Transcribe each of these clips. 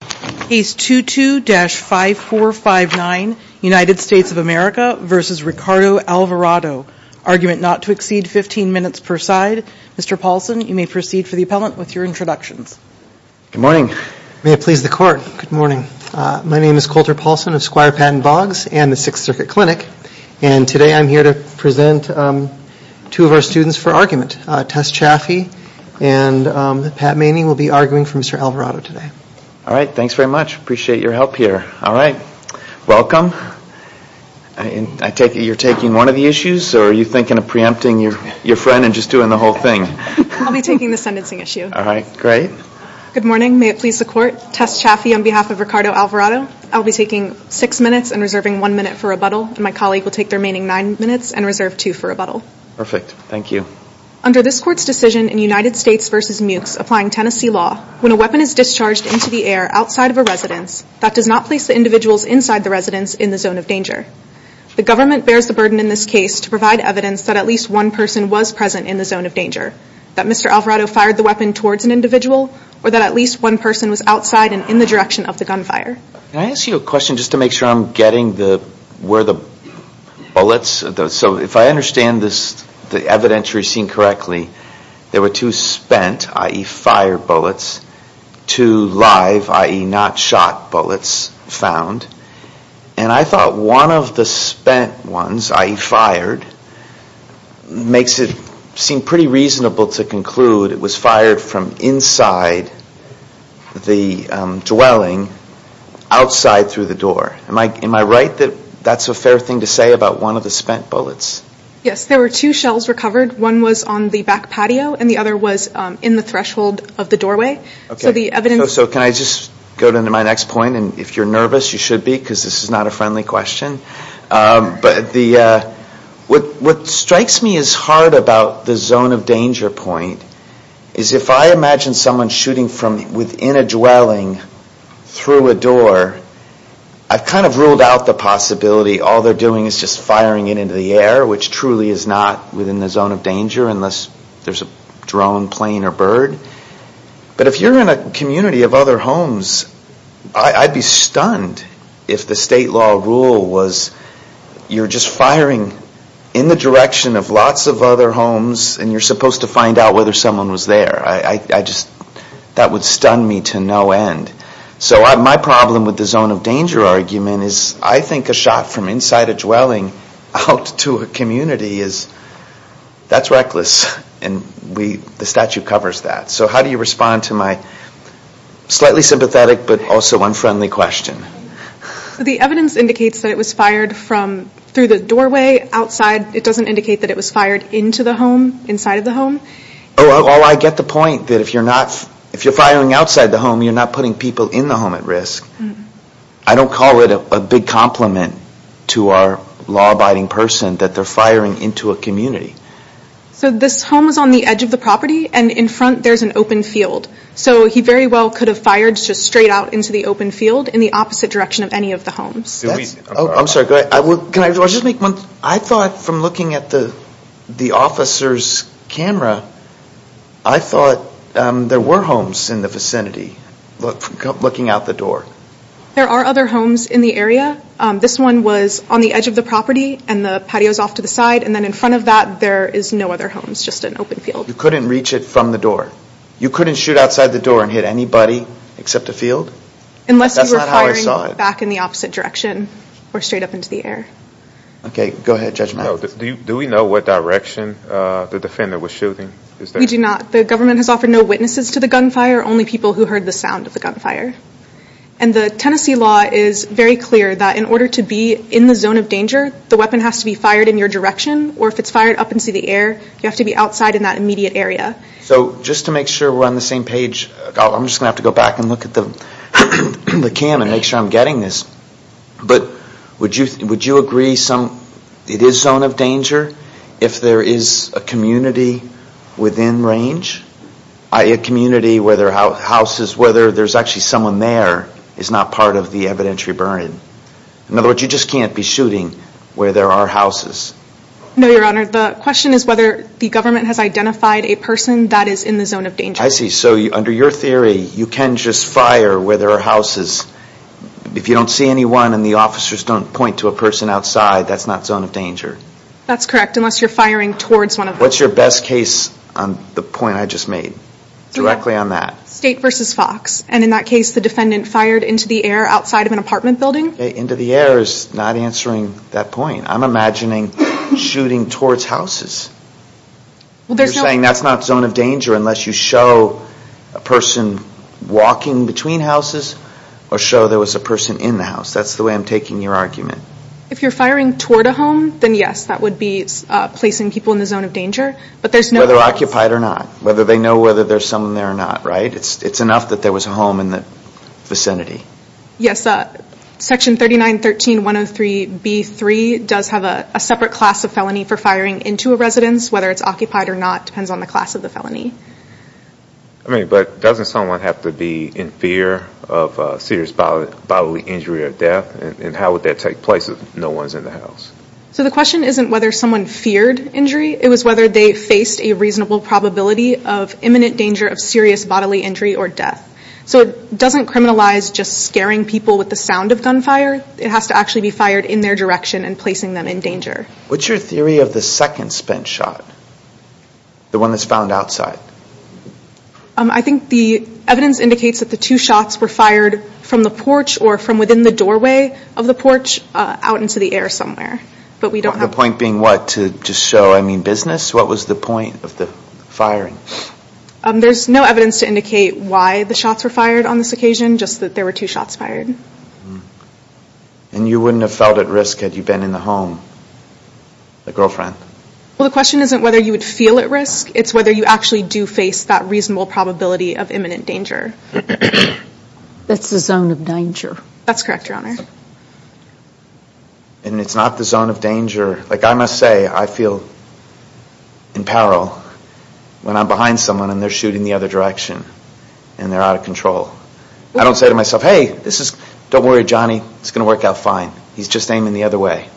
Case 22-5459, United States of America v. Ricardo Alvarado. Argument not to exceed 15 minutes per side. Mr. Paulson, you may proceed for the appellant with your introductions. Good morning. May it please the court. Good morning. My name is Colter Paulson of Squire Patton Boggs and the Sixth Circuit Clinic and today I'm here to present two of our students for argument. Tess Chaffee and Pat Manning will be arguing for Mr. Alvarado today. All right. Thanks very much. Appreciate your help here. All right. Welcome. I take it you're taking one of the issues or are you thinking of preempting your friend and just doing the whole thing? I'll be taking the sentencing issue. All right. Great. Good morning. May it please the court. Tess Chaffee on behalf of Ricardo Alvarado. I'll be taking six minutes and reserving one minute for rebuttal and my colleague will take the remaining nine minutes and reserve two for rebuttal. Perfect. Thank you. Under this court's decision in United States v. Mucs applying Tennessee law, when a weapon is discharged into the air outside of a residence, that does not place the individuals inside the residence in the zone of danger. The government bears the burden in this case to provide evidence that at least one person was present in the zone of danger. That Mr. Alvarado fired the weapon towards an individual or that at least one person was outside and in the direction of the gunfire. Can I ask you a question just to make sure I'm getting where the bullets are? So if I understand this evidentiary scene correctly, there were two spent, i.e. fired bullets, two live, i.e. not shot bullets found. And I thought one of the spent ones, i.e. fired, makes it seem pretty reasonable to conclude it was fired from inside the dwelling outside through the door. Am I right that that's a fair thing to say about one of the spent bullets? Yes, there were two shells recovered. One was on the back patio and the other was in the threshold of the doorway. So can I just go to my next point and if you're nervous you should be because this is not a friendly question. What strikes me as hard about the zone of danger point is if I imagine someone shooting from within a dwelling through a door, I've kind of ruled out the possibility all they're doing is just firing it into the air which truly is not within the zone of danger unless there's a drone, plane or bird. But if you're in a community of other homes, I'd be stunned if the state law rule was you're just firing in the direction of lots of other homes and you're supposed to find out whether someone was there. That would stun me to no end. So my problem with the zone of danger argument is I think a shot from inside a dwelling out to a community, that's reckless and the statute covers that. So how do you respond to my slightly sympathetic but also unfriendly question? The evidence indicates that it was fired through the doorway outside. It doesn't indicate that it was fired into the home, inside of the home. I get the point that if you're firing outside the home, you're not putting people in the home at risk. I don't call it a big compliment to our law-abiding person that they're firing into a community. So this home is on the edge of the property and in front there's an open field. So he very well could have fired just straight out into the open field in the opposite direction of any of the homes. I'm sorry. I thought from looking at the officer's camera, I thought there were homes in the vicinity looking out the door. There are other homes in the area. This one was on the edge of the property and the patio is off to the side and then in front of that there is no other home. It's just an open field. You couldn't reach it from the door. You couldn't shoot outside the door and hit anybody except a field? Unless you were firing back in the opposite direction. Or straight up into the air. Go ahead Judge Mathis. Do we know what direction the defendant was shooting? We do not. The government has offered no witnesses to the gunfire. Only people who heard the sound of the gunfire. And the Tennessee law is very clear that in order to be in the zone of danger, the weapon has to be fired in your direction or if it's fired up into the air, you have to be outside in that immediate area. So just to make sure we're on the same page, I'm just going to have to go back and look at the cam and make sure I'm getting this. But would you agree it is zone of danger if there is a community within range? A community where there are houses where there is actually someone there is not part of the evidentiary burning? In other words, you just can't be shooting where there are houses? No, Your Honor. The question is whether the government has identified a person that is in the zone of danger. I see. So under your theory, you can just fire where there are houses. If you don't see anyone and the officers don't point to a person outside, that's not zone of danger? That's correct, unless you're firing towards one of them. What's your best case on the point I just made? Directly on that. State versus Fox. And in that case, the defendant fired into the air outside of an apartment building? Into the air is not answering that point. I'm imagining shooting towards houses. You're that's not zone of danger unless you show a person walking between houses or show there was a person in the house. That's the way I'm taking your argument. If you're firing toward a home, then yes, that would be placing people in the zone of danger. But there's no... Whether occupied or not. Whether they know whether there's someone there or not, right? It's enough that there was a home in the vicinity. Yes. Section 3913.103.B.3 does have a separate class of felony for firing into a residence. Whether it's occupied or not depends on the class of the felony. But doesn't someone have to be in fear of serious bodily injury or death? And how would that take place if no one's in the house? The question isn't whether someone feared injury. It was whether they faced a reasonable probability of imminent danger of serious bodily injury or death. It doesn't criminalize just scaring people with the sound of gunfire. It has to actually be fired in their direction and placing them in danger. What's your theory of the second spent shot? The one that's found outside? I think the evidence indicates that the two shots were fired from the porch or from within the doorway of the porch out into the air somewhere. But we don't have... The point being what? To just show, I mean, business? What was the point of the firing? There's no evidence to indicate why the shots were fired on this occasion. Just that there were two shots fired. And you wouldn't have felt at risk had you been in the home? The girlfriend? Well, the question isn't whether you would feel at risk. It's whether you actually do face that reasonable probability of imminent danger. That's the zone of danger. That's correct, Your Honor. And it's not the zone of danger. Like I must say, I feel in peril when I'm behind someone and they're shooting the other direction and they're out of control. I don't say to myself, hey, don't worry, Johnny. It's going to work out fine. He's just aiming the other way.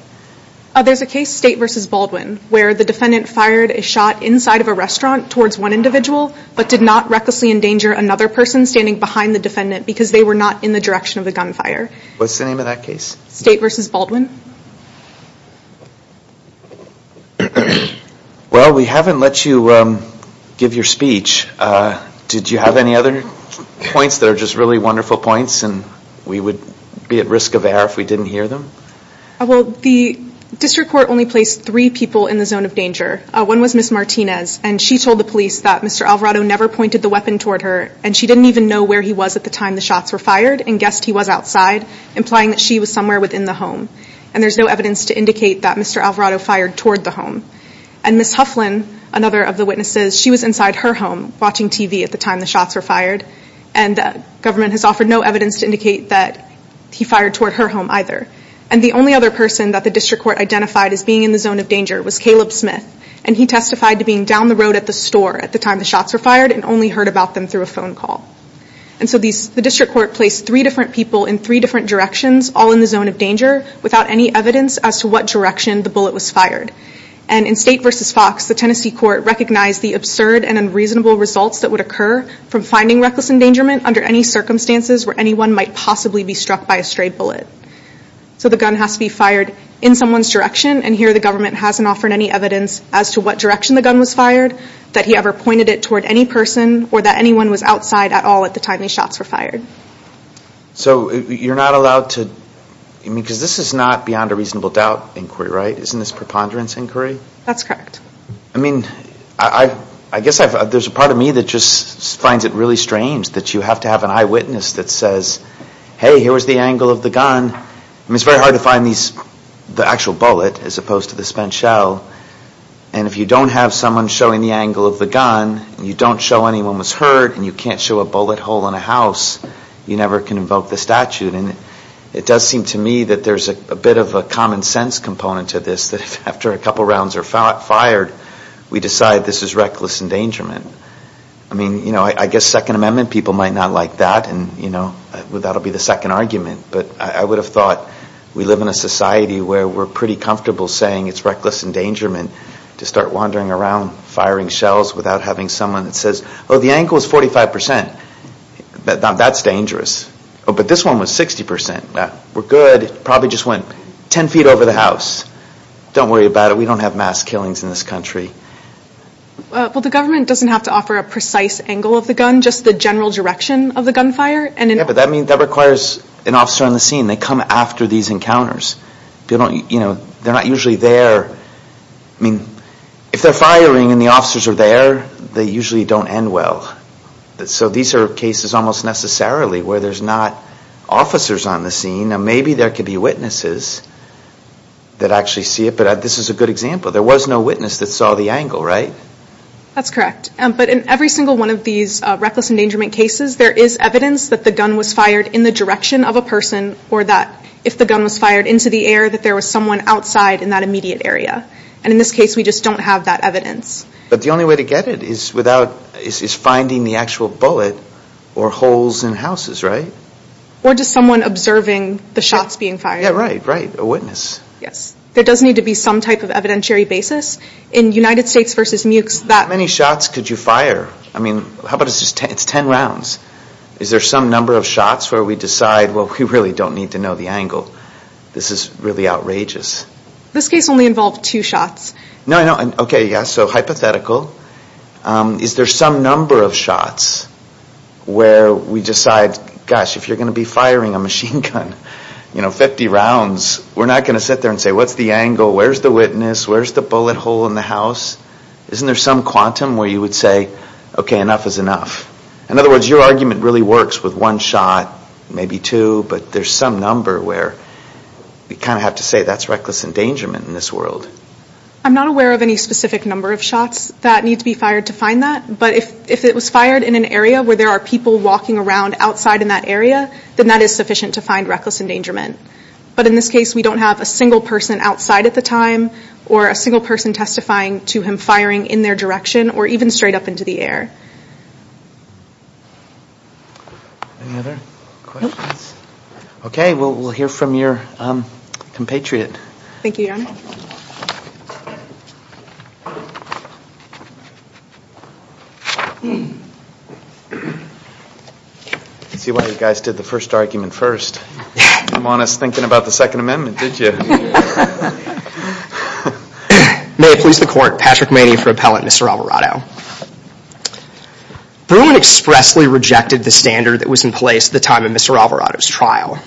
There's a case, State v. Baldwin, where the defendant fired a shot inside of a restaurant towards one individual but did not recklessly endanger another person standing behind the defendant because they were not in the direction of the gunfire. What's the name of that case? State v. Baldwin. Well, we haven't let you give your speech. Did you have any other points that are just really wonderful points and we would be at risk of error if we didn't hear them? Well, the district court only placed three people in the zone of danger. One was Ms. Martinez and she told the police that Mr. Alvarado never pointed the weapon toward her and she didn't even know where he was at the time the shots were fired and guessed he was outside, implying that she was somewhere within the home. And there's no evidence to indicate that Mr. Alvarado fired toward the home. And Ms. Hufflin, another of the witnesses, she was inside her home watching TV at the time the shots were fired and the government has offered no evidence to indicate that he fired toward her home either. And the only other person that the district court identified as being in the zone of danger was Caleb Smith and he testified to being down the road at the store at the time the shots were fired and only heard about them through a phone call. And so the district court placed three different people in three different directions all in the zone of danger without any evidence as to what direction the bullet was fired. And in State v. Fox, the Tennessee court recognized the absurd and unreasonable results that would occur from finding reckless endangerment under any circumstances where anyone might possibly be struck by a stray bullet. So the gun has to be fired in someone's direction and here the government hasn't offered any evidence as to what direction the gun was fired, that he ever pointed it toward any person or that anyone was outside at all at the time the shots were fired. So you're not allowed to, because this is not beyond a reasonable doubt inquiry, right? Isn't this preponderance inquiry? That's correct. I mean, I guess there's a part of me that just finds it really strange that you have to have an eyewitness that says, hey, here was the angle of the gun. I mean, it's very hard to find the actual bullet as opposed to the spent shell. And if you don't have someone showing the angle of the gun, you don't show anyone was hurt and you can't show a bullet hole in a house, you never can invoke the statute. And it does seem to me that there's a bit of a common sense component to this, that after a couple rounds are fired, we decide this is reckless endangerment. I mean, I guess Second Amendment people might not like that and that will be the second argument, but I would have thought we live in a society where we're pretty comfortable saying it's reckless endangerment to start wandering around firing shells without having someone that says, oh, the angle is 45 percent. That's dangerous. Oh, but this one was 60 percent. We're good. It probably just went 10 feet over the house. Don't worry about it. We don't have mass killings in this country. Well, the government doesn't have to offer a precise angle of the gun, just the general direction of the gunfire. Yeah, but that requires an officer on the scene. They come after these encounters. They're not usually there. If they're firing and the officers are there, they usually don't end well. So these are cases almost necessarily where there's not officers on the scene and maybe there could be witnesses that actually see it, but this is a good example. There was no witness that saw the angle, right? That's correct. But in every single one of these reckless endangerment cases, there is evidence that the gun was fired in the direction of a person or that if the gun was fired into the air that there was someone outside in that immediate area. And in this case, we just don't have that evidence. But the only way to get it is without, is finding the actual bullet or holes in houses, right? Or just someone observing the shots being fired. Yeah, right, right. A witness. Yes. There does need to be some type of evidentiary basis. In United States v. Mucs, that- How many shots could you fire? I mean, how about it's 10 rounds. Is there some number of shots where we decide, well, we really don't need to know the angle? This is really outrageous. This case only involved two shots. No, no. Okay, yeah. So hypothetical. Is there some number of shots where we decide, gosh, if you're going to be firing a machine gun 50 rounds, we're not going to sit there and say, what's the angle? Where's the witness? Where's the bullet hole in the house? Isn't there some quantum where you would say, okay, enough is enough? In other words, your argument really works with one shot, maybe two, but there's some number where we kind of have to say that's reckless endangerment in this world. I'm not aware of any specific number of shots that need to be fired to find that. But if it was fired in an area where there are people walking around outside in that area, then that is sufficient to find reckless endangerment. But in this case, we don't have a single person outside at the time, or a single person testifying to him firing in their direction, or even straight up into the air. Any other questions? Nope. Okay, well, we'll hear from your compatriot. Thank you, Your Honor. I see why you guys did the first argument first. You didn't want us thinking about the Second Amendment, did you? May it please the Court, Patrick Maney for Appellant, Mr. Alvarado. Bruin expressly rejected the standard that was in place at the time of Mr. Alvarado's trial.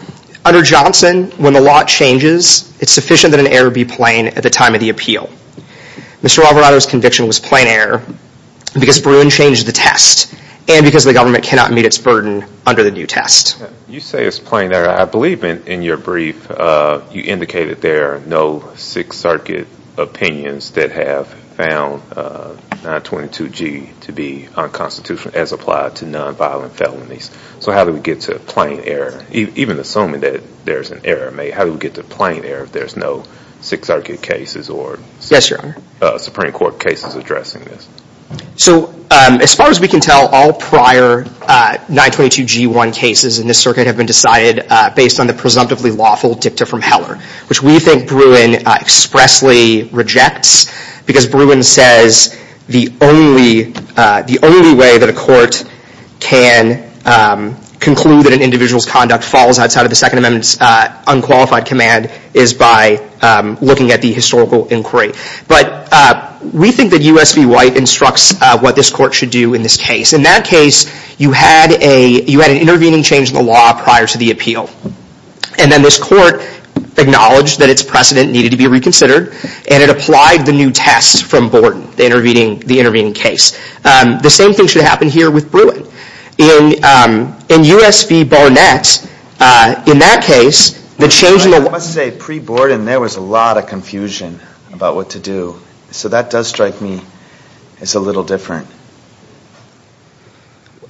Under Johnson, when the law changes, it's sufficient that an error be plain at the time of the appeal. Mr. Alvarado's conviction was plain error because Bruin changed the test, and because the government cannot meet its burden under the new test. You say it's plain error. I believe in your brief, you indicated there are no Sixth Circuit opinions that have found 922G to be unconstitutional as applied to nonviolent felonies. So how do we get to plain error? Even assuming that there's an error, how do we get to plain error if there's no Sixth Circuit cases or Supreme Court cases addressing this? So as far as we can tell, all prior 922G1 cases in this circuit have been decided based on the presumptively lawful dicta from Heller, which we think Bruin expressly rejects because Bruin says the only way that a court can conclude that an individual's conduct falls outside of the Second Amendment's unqualified command is by looking at the historical inquiry. But we think that U.S. v. White instructs what this court should do in this case. In that case, you had an intervening change in the law prior to the appeal, and then this court acknowledged that its precedent needed to be reconsidered, and it applied the new test from Borden, the intervening case. The same thing should happen here with Bruin. In U.S. v. Barnett, in that case, the change in the law... I must say, pre-Borden, there was a lot of confusion about what to do. So that does strike me as a little different.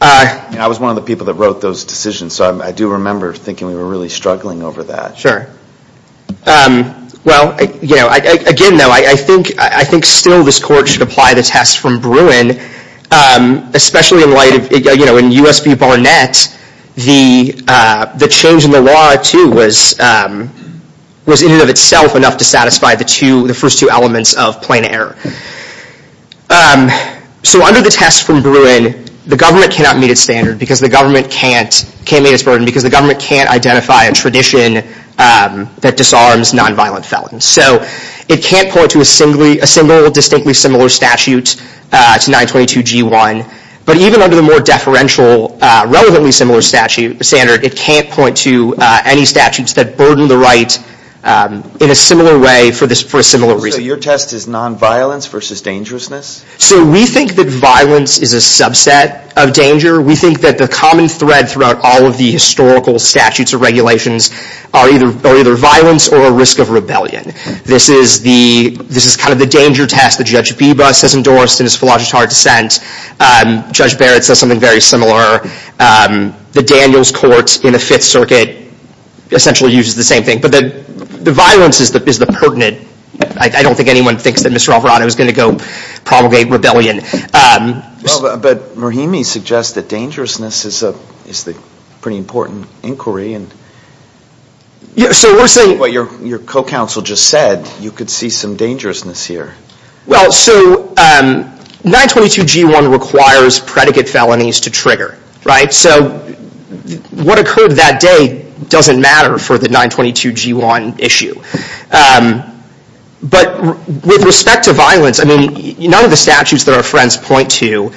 I was one of the people that wrote those decisions, so I do remember thinking we were really struggling over that. Sure. Well, again, though, I think still this court should apply the test from Bruin, especially in light of, in U.S. v. Barnett, the change in the law, too, was in and of itself enough to satisfy the first two elements of plain error. So under the test from Bruin, the government cannot meet its standard because the government can't meet its burden, because the government can't identify a tradition that disarms nonviolent felons. So it can't point to a distinctly similar statute to 922G1. But even under the more deferential, relevantly similar statute, standard, it can't point to any statutes that burden the right in a similar way for a similar reason. So your test is nonviolence versus dangerousness? So we think that violence is a subset of danger. We think that the common thread throughout all of the historical statutes or regulations are either violence or a risk of rebellion. This is kind of the danger test that Judge Beebus has endorsed in his philosophic dissent. Judge Barrett says something very similar. The Daniels Court in the Fifth Circuit essentially uses the same thing. But the violence is the pertinent. I don't think anyone thinks that Mr. Alvarado is going to go propagate rebellion. But Murhimi suggests that dangerousness is a pretty important inquiry. And what your co-counsel just said, you could see some dangerousness here. Well, so 922G1 requires predicate felonies to trigger. So what occurred that day doesn't matter for the 922G1 issue. But with respect to violence, I mean, none of the statutes that our friends point to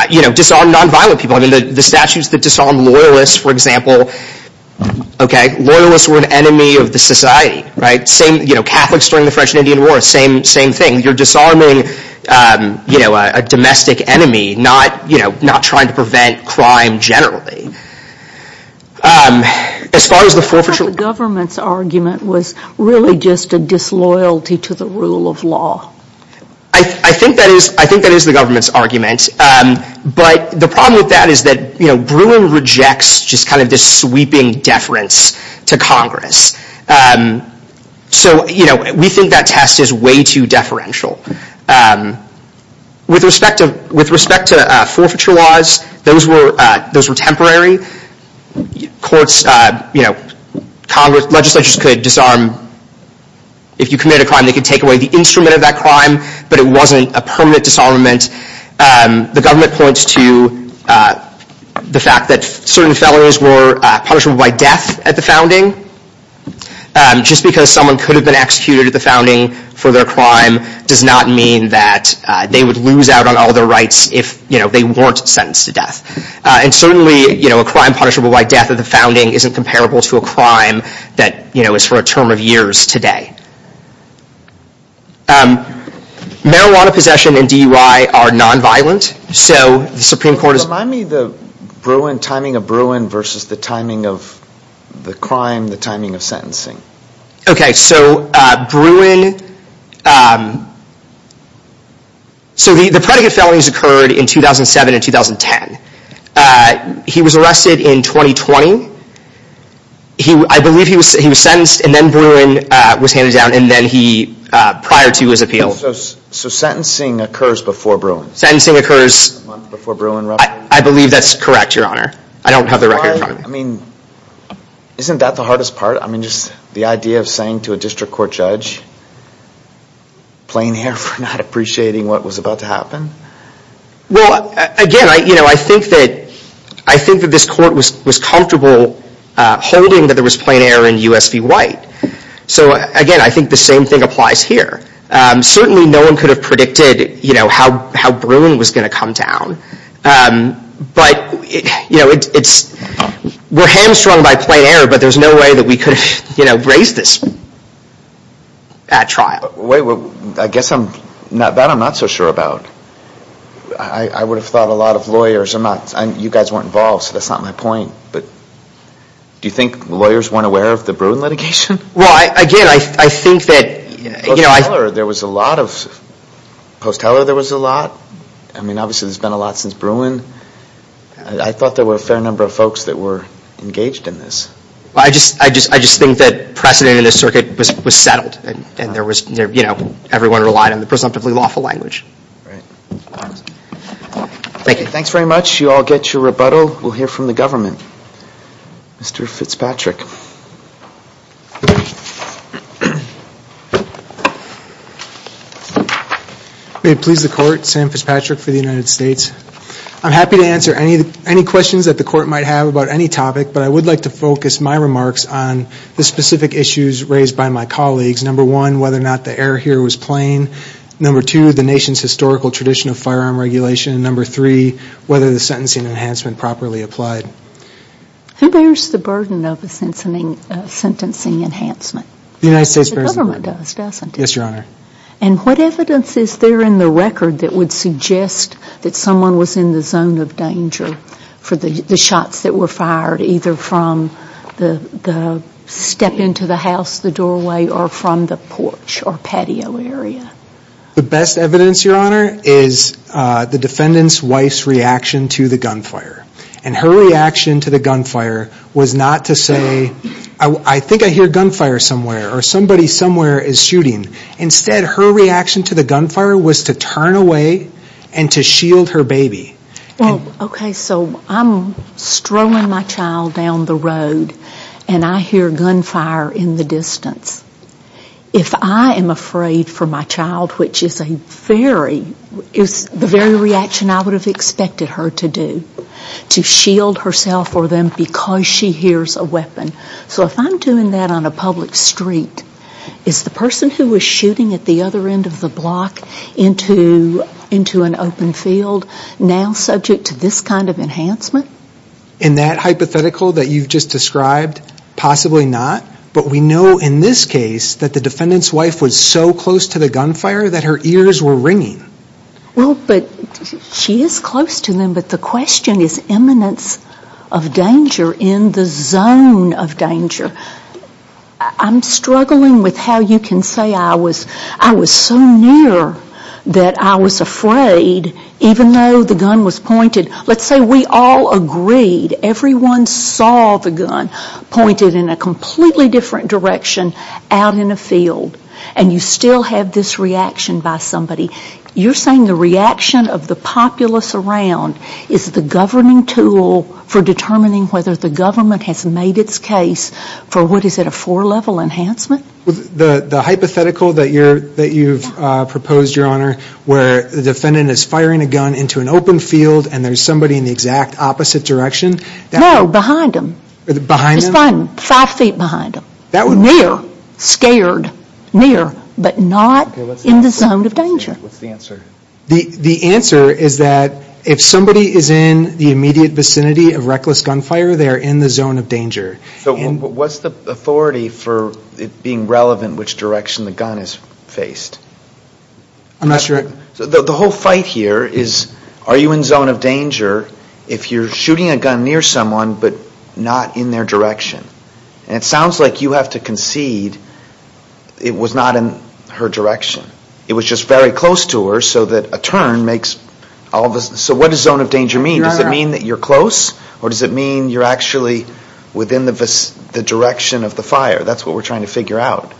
disarm nonviolent people. I mean, the statutes that disarm loyalists, for example, loyalists were an enemy of the society, right? Catholics during the French and Indian War, same thing. You're disarming a domestic enemy, not trying to prevent crime generally. I thought the government's argument was really just a disloyalty to the rule of law. I think that is the government's argument. But the problem with that is that Brewer rejects just kind of this sweeping deference to Congress. So we think that test is way too deferential. With respect to forfeiture laws, those were temporary. Courts, you know, Congress, legislatures could disarm, if you committed a crime, they could take away the instrument of that crime. But it wasn't a permanent disarmament. The government points to the fact that certain felonies were punishable by death at the founding. Just because someone could have been executed at the founding for their crime does not mean that they would lose out on all their rights if they weren't sentenced to death. And certainly, a crime punishable by death at the founding isn't comparable to a crime that is for a term of years today. Marijuana possession and DUI are nonviolent. So the Supreme Court is- Remind me the timing of Bruin versus the timing of the crime, the timing of sentencing. OK, so Bruin, so the predicate felonies occurred in 2007 and 2010. He was arrested in 2020. I believe he was sentenced and then Bruin was handed down prior to his appeal. So sentencing occurs before Bruin? Sentencing occurs- A month before Bruin. I believe that's correct, Your Honor. I don't have the record. I mean, isn't that the hardest part? I mean, just the idea of saying to a district court judge, plain air for not appreciating what was about to happen? Well, again, I think that this court was comfortable holding that there was plain air in U.S. v. White. So again, I think the same thing applies here. Certainly, no one could have predicted how Bruin was going to come down. But, you know, we're hamstrung by plain air, but there's no way that we could have, you know, raised this at trial. Wait, I guess that I'm not so sure about. I would have thought a lot of lawyers are not, you guys weren't involved, so that's not my point. But do you think lawyers weren't aware of the Bruin litigation? Well, again, I think that, you know- Post Heller, there was a lot of, Post Heller, there was a lot. I mean, obviously, there's been a lot since Bruin. I thought there were a fair number of folks that were engaged in this. I just think that precedent in this circuit was settled, and there was, you know, everyone relied on the presumptively lawful language. Right. Thank you. Thanks very much. You all get your rebuttal. We'll hear from the government. Mr. Fitzpatrick. May it please the Court, Sam Fitzpatrick for the United States. I'm happy to answer any questions that the Court might have about any topic, but I would like to focus my remarks on the specific issues raised by my colleagues. Number one, whether or not the error here was plain. Number two, the nation's historical tradition of firearm regulation. And number three, whether the sentencing enhancement properly applied. Who bears the burden of a sentencing enhancement? The United States bears the burden. The government does, doesn't it? Yes, Your Honor. And what evidence is there in the record that would suggest that someone was in the zone of danger for the shots that were fired either from the step into the house, the doorway, or from the porch or patio area? The best evidence, Your Honor, is the defendant's wife's reaction to the gunfire. And her reaction to the gunfire was not to say, I think I hear gunfire somewhere or somebody somewhere is shooting. Instead, her reaction to the gunfire was to turn away and to shield her baby. Well, okay, so I'm strolling my child down the road and I hear gunfire in the distance. If I am afraid for my child, which is a very, is the very reaction I would have expected her to do, to shield herself or them because she hears a weapon. So if I'm doing that on a public street, is the person who was shooting at the other end of the block into an open field now subject to this kind of enhancement? In that hypothetical that you've just described, possibly not. But we know in this case that the defendant's wife was so close to the gunfire that her ears were ringing. Well, but she is close to them, but the question is eminence of danger in the zone of danger. I'm struggling with how you can say I was, I was so near that I was afraid even though the gun was pointed. Let's say we all agreed, everyone saw the gun pointed in a completely different direction out in a field. And you still have this reaction by somebody. You're saying the reaction of the populace around is the governing tool for determining whether the government has made its case for what is it, a four-level enhancement? The hypothetical that you're, that you've proposed, Your Honor, where the defendant is firing a gun into an open field and there's somebody in the exact opposite direction. No, behind them. Behind them? Five feet behind them. Near, scared, near, but not in the zone of danger. What's the answer? The answer is that if somebody is in the immediate vicinity of reckless gunfire, they're in the zone of danger. So what's the authority for it being relevant which direction the gun is faced? I'm not sure. The whole fight here is are you in zone of danger if you're shooting a gun near someone but not in their direction? And it sounds like you have to concede it was not in her direction. It was just very close to her so that a turn makes all of us, so what does zone of danger mean? Does it mean that you're close or does it mean you're actually within the direction of the fire? That's what we're trying to figure out.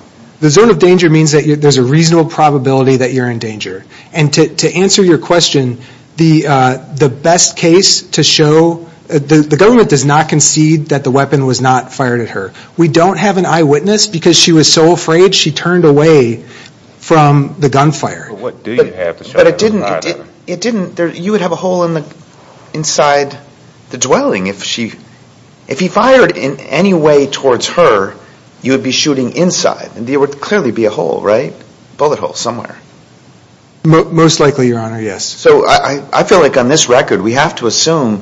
The zone of danger means that there's a reasonable probability that you're in danger. And to answer your question, the best case to show, the government does not concede that the weapon was not fired at her. We don't have an eyewitness because she was so afraid, she turned away from the gunfire. But what do you have to show? But it didn't, you would have a hole inside the dwelling. If he fired in any way towards her, you would be shooting inside and there would clearly be a hole, right? Bullet hole somewhere. Most likely, your honor, yes. So I feel like on this record, we have to assume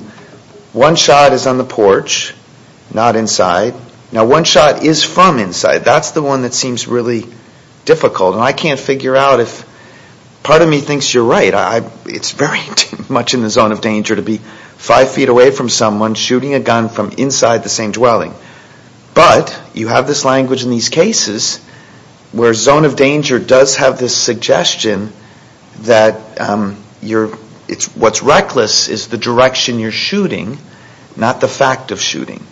one shot is on the porch, not inside. Now one shot is from inside. That's the one that seems really difficult. And I can't figure out if part of me thinks you're right. It's very much in the zone of danger to be five feet away from someone shooting a gun from inside the same dwelling. But you have this language in these cases where zone of danger does have this suggestion that what's reckless is the direction you're shooting, not the fact of shooting.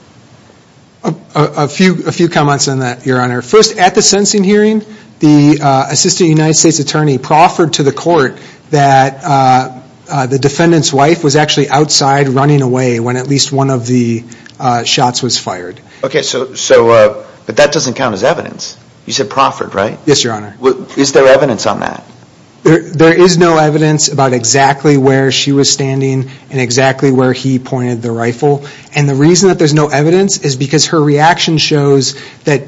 A few comments on that, your honor. First, at the sentencing hearing, the assistant United States attorney proffered to the court that the defendant's wife was actually outside running away when at least one of the shots was fired. Okay, so, but that doesn't count as evidence. You said proffered, right? Yes, your honor. Is there evidence on that? There is no evidence about exactly where she was standing and exactly where he pointed the rifle. And the reason that there's no evidence is because her reaction shows that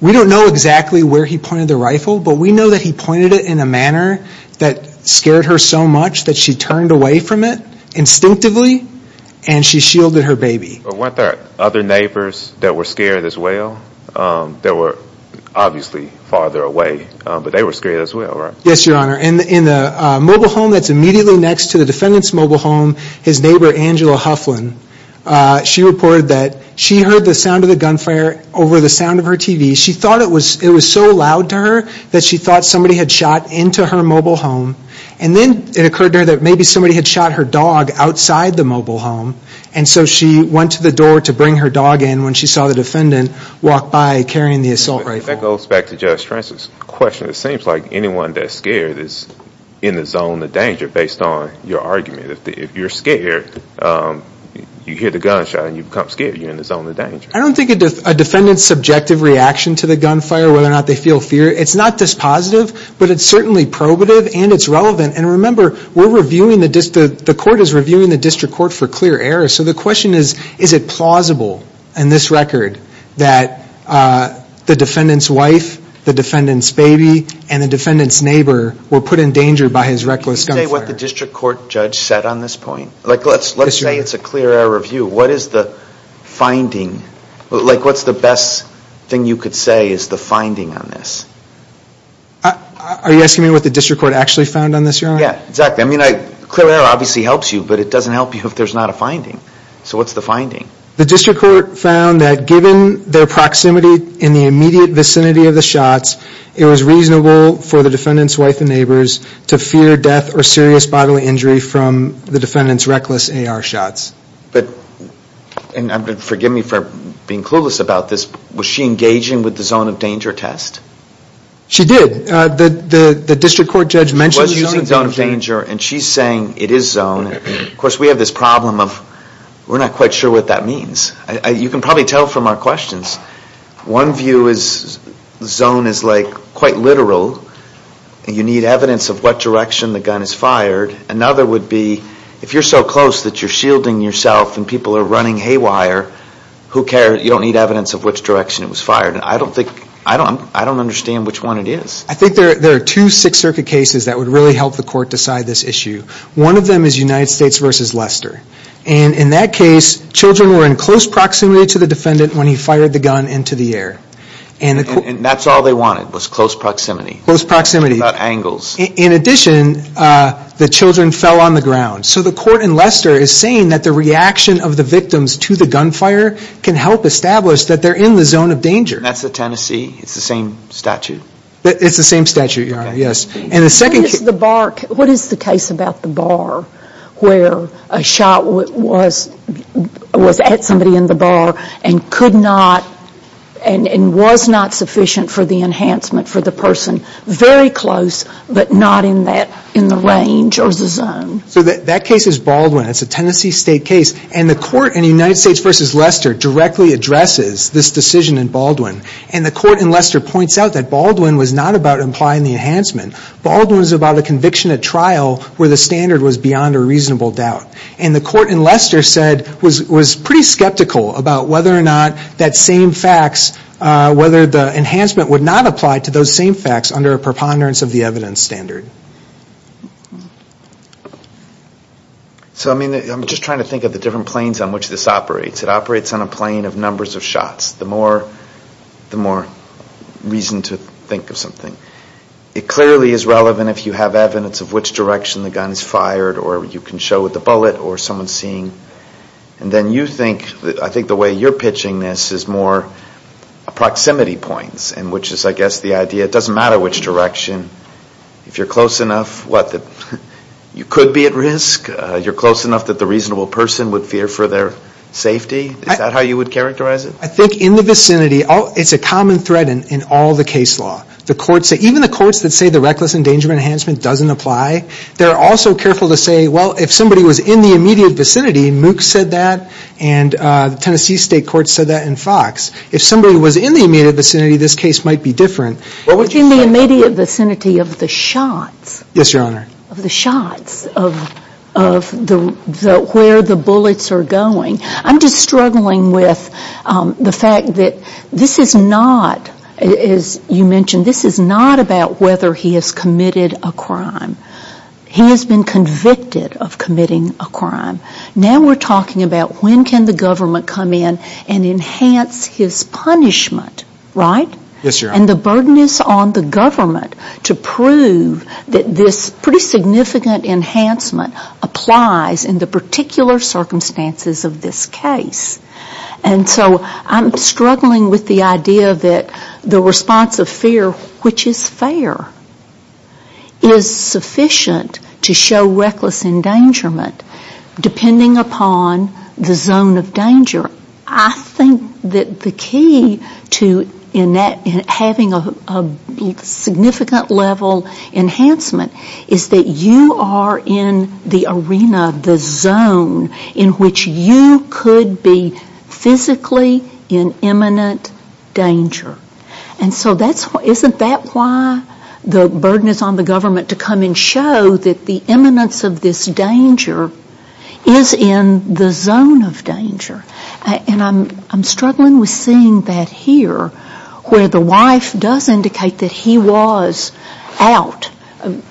we don't know exactly where he pointed the rifle, but we know that he pointed it in a manner that scared her so much that she turned away from it instinctively and she shielded her baby. But weren't there other neighbors that were scared as well? That were obviously farther away, but they were scared as well, right? Yes, your honor. In the mobile home that's immediately next to the defendant's mobile home, his neighbor Angela Hufflin, she reported that she heard the sound of the gunfire over the sound of her TV. She thought it was so loud to her that she thought somebody had shot into her mobile home. And then it occurred to her that maybe somebody had shot her dog outside the mobile home. And so she went to the door to bring her dog in when she saw the defendant walk by carrying the assault rifle. That goes back to Judge Francis' question. It seems like anyone that's scared is in the zone of danger based on your argument. If you're scared, you hear the gunshot and you become scared. You're in the zone of danger. I don't think a defendant's subjective reaction to the gunfire, whether or not they feel fear, it's not dispositive, but it's certainly probative and it's relevant. And remember, the court is reviewing the district court for clear error. So the question is, is it plausible in this record that the defendant's wife, the defendant's baby, and the defendant's neighbor were put in danger by his reckless gunfire? Can you say what the district court judge said on this point? Let's say it's a clear error review. What is the finding? What's the best thing you could say is the finding on this? Are you asking me what the district court actually found on this, Your Honor? Yeah, exactly. Clear error obviously helps you, but it doesn't help you if there's not a finding. So what's the finding? The district court found that given their proximity in the immediate vicinity of the shots, it was reasonable for the defendant's wife and neighbors to fear death or serious bodily injury from the defendant's reckless AR shots. And forgive me for being clueless about this. Was she engaging with the zone of danger test? She did. The district court judge mentioned using zone of danger. And she's saying it is zone. Of course, we have this problem of we're not quite sure what that means. You can probably tell from our questions. One view is zone is like quite literal. You need evidence of what direction the gun is fired. Another would be if you're so close that you're shielding yourself and people are running haywire, who cares, you don't need evidence of which direction it was fired. And I don't think, I don't understand which one it is. I think there are two Sixth Circuit cases that would really help the court decide this issue. One of them is United States versus Leicester. And in that case, children were in close proximity to the defendant when he fired the gun into the air. And that's all they wanted was close proximity. In addition, the children fell on the ground. So the court in Leicester is saying that the reaction of the victims to the gunfire can help establish that they're in the zone of danger. That's the Tennessee? It's the same statute? It's the same statute, yes. And the second case. What is the case about the bar where a shot was at somebody in the bar and was not sufficient for the enhancement for the person? Very close, but not in the range or the zone. So that case is Baldwin. It's a Tennessee State case. And the court in United States versus Leicester directly addresses this decision in Baldwin. And the court in Leicester points out that Baldwin was not about implying the enhancement. Baldwin was about a conviction at trial where the standard was beyond a reasonable doubt. And the court in Leicester said, was pretty skeptical about whether or not that same facts, whether the enhancement would not apply to those same facts under a preponderance of the evidence standard. So I mean, I'm just trying to think of the different planes on which this operates. It operates on a plane of numbers of shots. The more reason to think of something. It clearly is relevant if you have evidence of which direction the gun is fired or you can show with the bullet or someone's seeing. And then you think, I think the way you're pitching this is more proximity points in which is I guess the idea it doesn't matter which direction. If you're close enough, what, you could be at risk? You're close enough that the reasonable person would fear for their safety? Is that how you would characterize it? I think in the vicinity, it's a common thread in all the case law. The courts, even the courts that say the reckless endangerment enhancement doesn't apply, they're also careful to say, well, if somebody was in the immediate vicinity, MOOC said that and Tennessee state courts said that in Fox. If somebody was in the immediate vicinity, this case might be different. In the immediate vicinity of the shots. Yes, your honor. Of the shots, of where the bullets are going. I'm just struggling with the fact that this is not, as you mentioned, this is not about whether he has committed a crime. He has been convicted of committing a crime. Now we're talking about when can the government come in and enhance his punishment, right? Yes, your honor. And the burden is on the government to prove that this pretty significant enhancement applies in the particular circumstances of this case. And so I'm struggling with the idea that the response of fear, which is fair, is sufficient to show reckless endangerment depending upon the zone of danger. I think that the key to having a significant level enhancement is that you are in the arena of the zone in which you could be physically in imminent danger. And so isn't that why the burden is on the government to come and show that the imminence of this danger is in the zone of danger? And I'm struggling with seeing that here where the wife does indicate that he was out,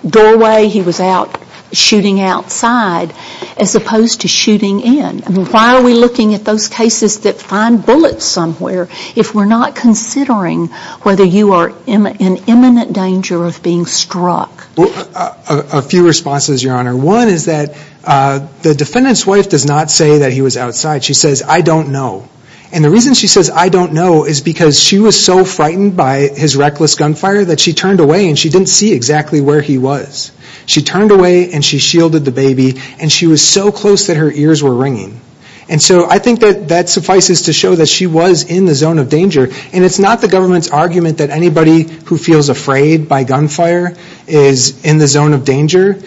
doorway he was out shooting outside as opposed to shooting in. Why are we looking at those cases that find bullets somewhere if we're not considering whether you are in imminent danger of being struck? Well, a few responses, your honor. One is that the defendant's wife does not say that he was outside. She says, I don't know. And the reason she says I don't know is because she was so frightened by his reckless gunfire that she turned away and she didn't see exactly where he was. She turned away and she shielded the baby. And she was so close that her ears were ringing. And so I think that that suffices to show that she was in the zone of danger. And it's not the government's argument that anybody who feels afraid by gunfire is in the zone of danger.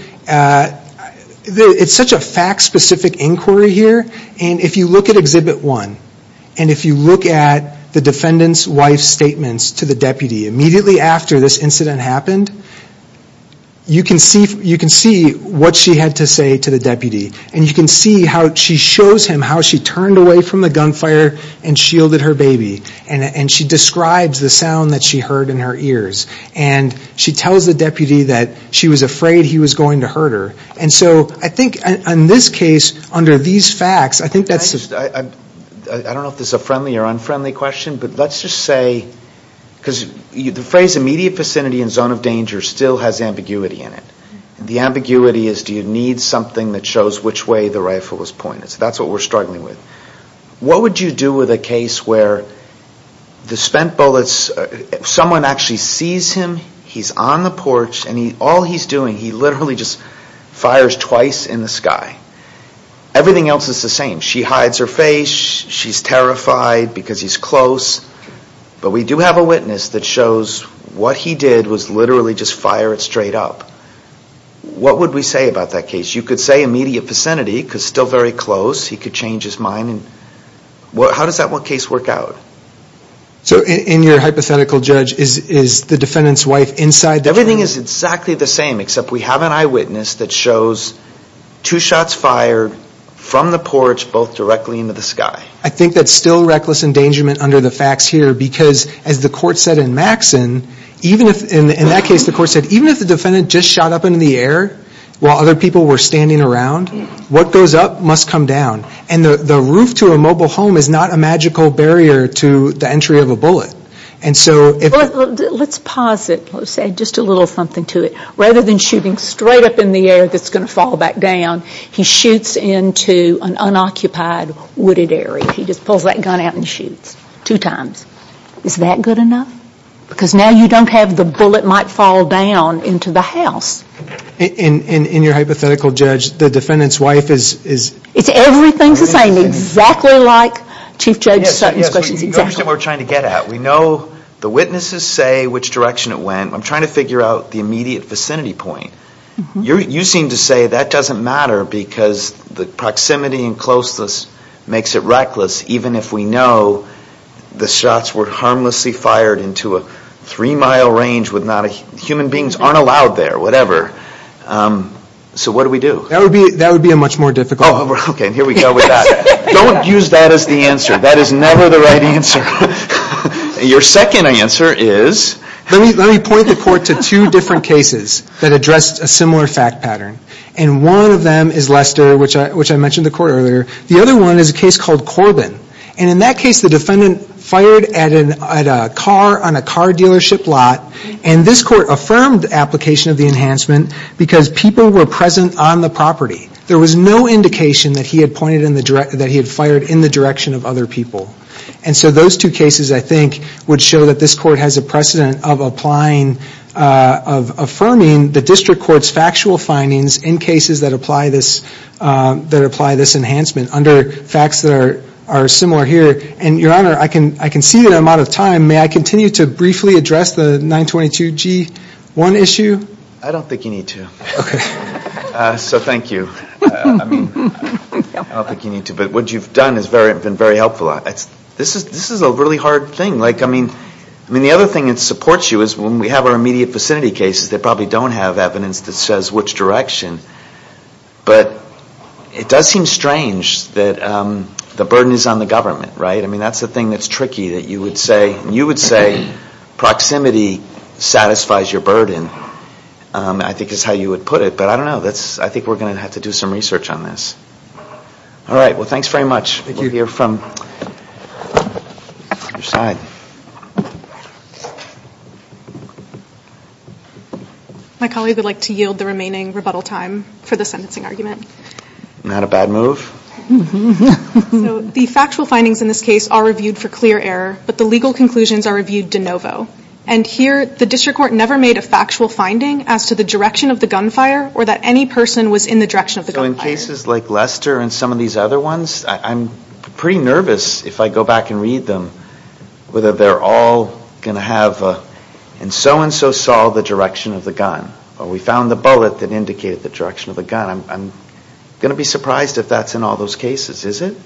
It's such a fact-specific inquiry here. And if you look at Exhibit 1 and if you look at the defendant's wife's statements to the deputy immediately after this incident happened, you can see what she had to say to the deputy. And you can see how she shows him how she turned away from the gunfire and shielded her baby. And she describes the sound that she heard in her ears. And she tells the deputy that she was afraid he was going to hurt her. And so I think in this case, under these facts, I think that's... I don't know if this is a friendly or unfriendly question, but let's just say... Because the phrase immediate vicinity and zone of danger still has ambiguity in it. The ambiguity is do you need something that shows which way the rifle was pointed. So that's what we're struggling with. What would you do with a case where the spent bullets... Someone actually sees him, he's on the porch, and all he's doing, he literally just fires twice in the sky. Everything else is the same. She hides her face. She's terrified because he's close. But we do have a witness that shows what he did was literally just fire it straight up. What would we say about that case? You could say immediate vicinity, because still very close. He could change his mind. How does that one case work out? So in your hypothetical, Judge, is the defendant's wife inside the... Everything is exactly the same, except we have an eyewitness that shows two shots fired from the porch, both directly into the sky. I think that's still reckless endangerment under the facts here, because as the court said in Maxson, even if... In that case, the court said even if the defendant just shot up into the air while other people were standing around, what goes up must come down. And the roof to a mobile home is not a magical barrier to the entry of a bullet. And so if... Let's pause it. Let's say just a little something to it. Rather than shooting straight up in the air that's going to fall back down, he shoots into an unoccupied wooded area. He just pulls that gun out and shoots two times. Is that good enough? Because now you don't have the bullet might fall down into the house. In your hypothetical, Judge, the defendant's wife is... It's everything's the same, exactly like Chief Judge Sutton's questions. You don't understand where we're trying to get at. We know the witnesses say which direction it went. I'm trying to figure out the immediate vicinity point. You seem to say that doesn't matter because the proximity and closeness makes it reckless. Even if we know the shots were harmlessly fired into a three-mile range with not a... Human beings aren't allowed there, whatever. So what do we do? That would be a much more difficult... Oh, okay. Here we go with that. Don't use that as the answer. That is never the right answer. Your second answer is... Let me point the court to two different cases that addressed a similar fact pattern. And one of them is Lester, which I mentioned the court earlier. The other one is a case called Corbin. And in that case, the defendant fired at a car on a car dealership lot. And this court affirmed application of the enhancement because people were present on the property. There was no indication that he had pointed in the direct... That he had fired in the direction of other people. And so those two cases, I think, would show that this court has a precedent of applying... Of affirming the district court's factual findings in cases that apply this enhancement under facts that are similar here. And your honor, I can see that I'm out of time. May I continue to briefly address the 922G1 issue? I don't think you need to. Okay. So thank you. I mean, I don't think you need to. But what you've done has been very helpful. This is a really hard thing. Like, I mean, the other thing that supports you is when we have our immediate vicinity cases, they probably don't have evidence that says which direction. But it does seem strange that the burden is on the government, right? I mean, that's the thing that's tricky that you would say. You would say proximity satisfies your burden, I think is how you would put it. But I don't know. I think we're going to have to do some research on this. All right. Well, thanks very much. Thank you. We'll hear from your side. My colleague would like to yield the remaining rebuttal time for the sentencing argument. Not a bad move. So the factual findings in this case are reviewed for clear error, but the legal conclusions are reviewed de novo. And here, the district court never made a factual finding as to the direction of the gunfire or that any person was in the direction of the gunfire. So in cases like Lester and some of these other ones, I'm pretty nervous if I go back and read them whether they're all going to have a, and so and so saw the direction of the gun. Or we found the bullet that indicated the direction of the gun. I'm going to be surprised if that's in all those cases. Is it?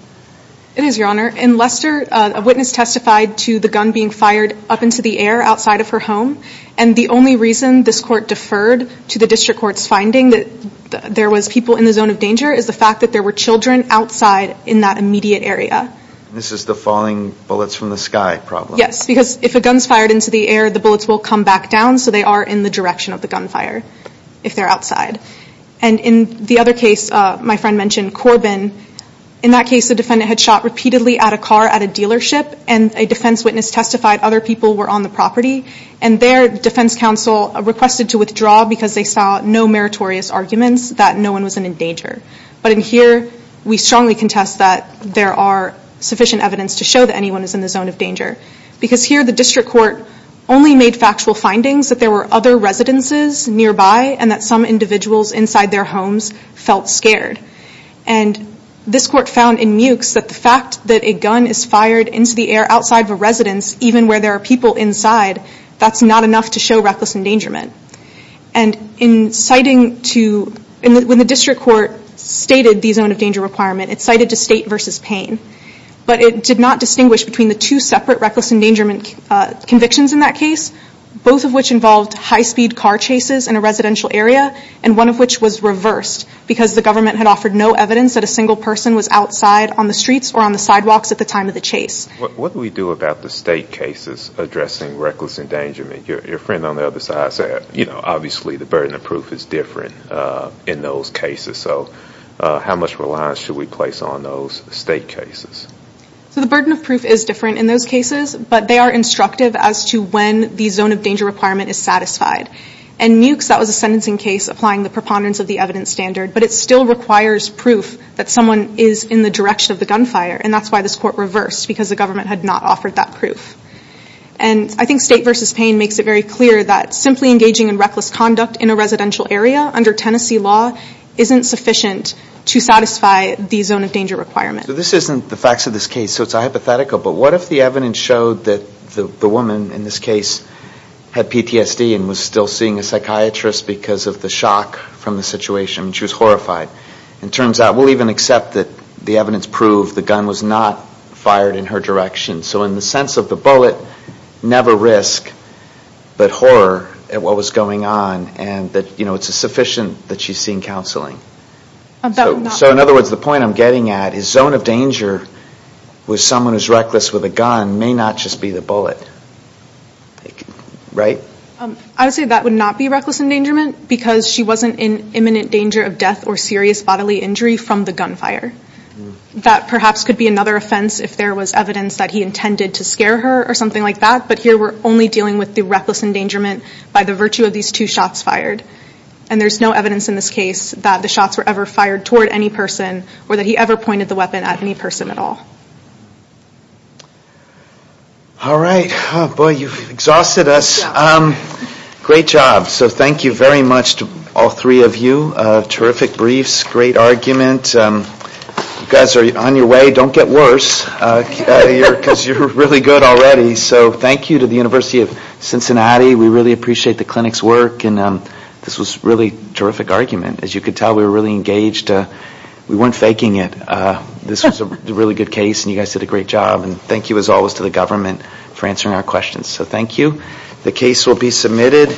It is, Your Honor. In Lester, a witness testified to the gun being fired up into the air outside of her home. And the only reason this court deferred to the district court's finding that there was people in the zone of danger is the fact that there were children outside in that immediate area. This is the falling bullets from the sky problem. Yes, because if a gun's fired into the air, the bullets will come back down, so they are in the direction of the gunfire if they're outside. And in the other case, my friend mentioned Corbin. In that case, the defendant had shot repeatedly at a car at a dealership, and a defense witness testified other people were on the property. And their defense counsel requested to withdraw because they saw no meritorious arguments that no one was in danger. But in here, we strongly contest that there are sufficient evidence to show that anyone is in the zone of danger. Because here, the district court only made factual findings that there were other residences nearby and that some individuals inside their homes felt scared. And this court found in Mewkes that the fact that a gun is fired into the air outside of a residence, even where there are people inside, that's not enough to show reckless endangerment. And in citing to, when the district court stated the zone of danger requirement, it cited to state versus Payne. But it did not distinguish between the two separate reckless endangerment convictions in that case, both of which involved high-speed car chases in a residential area, and one of which was reversed because the government had offered no evidence that a single person was outside on the streets or on the sidewalks at the time of the chase. What do we do about the state cases addressing reckless endangerment? Your friend on the other side said, you know, obviously, the burden of proof is different in those cases. So how much reliance should we place on those state cases? So the burden of proof is different in those cases, but they are instructive as to when the zone of danger requirement is satisfied. In Mewkes, that was a sentencing case applying the preponderance of the evidence standard, but it still requires proof that someone is in the direction of the gunfire. And that's why this court reversed, because the government had not offered that proof. And I think State v. Payne makes it very clear that simply engaging in reckless conduct in a residential area under Tennessee law isn't sufficient to satisfy the zone of danger requirement. So this isn't the facts of this case, so it's hypothetical, but what if the evidence showed that the woman in this case had PTSD and was still seeing a psychiatrist because of the shock from the situation, and she was horrified? It turns out, we'll even accept that the evidence proved the gun was not fired in her direction. So in the sense of the bullet, never risk, but horror at what was going on, and that it's sufficient that she's seeing counseling. So in other words, the point I'm getting at is zone of danger with someone who's reckless with a gun may not just be the bullet, right? I would say that would not be reckless endangerment, because she wasn't in imminent danger of death or serious bodily injury from the gunfire. That perhaps could be another offense if there was evidence that he intended to scare her or something like that, but here we're only dealing with the reckless endangerment by the virtue of these two shots fired. And there's no evidence in this case that the shots were ever fired toward any person or that he ever pointed the weapon at any person at all. All right. Boy, you've exhausted us. Great job. So thank you very much to all three of you. Terrific briefs. Great argument. You guys are on your way. Don't get worse, because you're really good already. So thank you to the University of Cincinnati. We really appreciate the clinic's work, and this was a really terrific argument. As you could tell, we were really engaged. We weren't faking it. This was a really good case, and you guys did a great job. And thank you, as always, to the government for answering our questions. So thank you. The case will be submitted.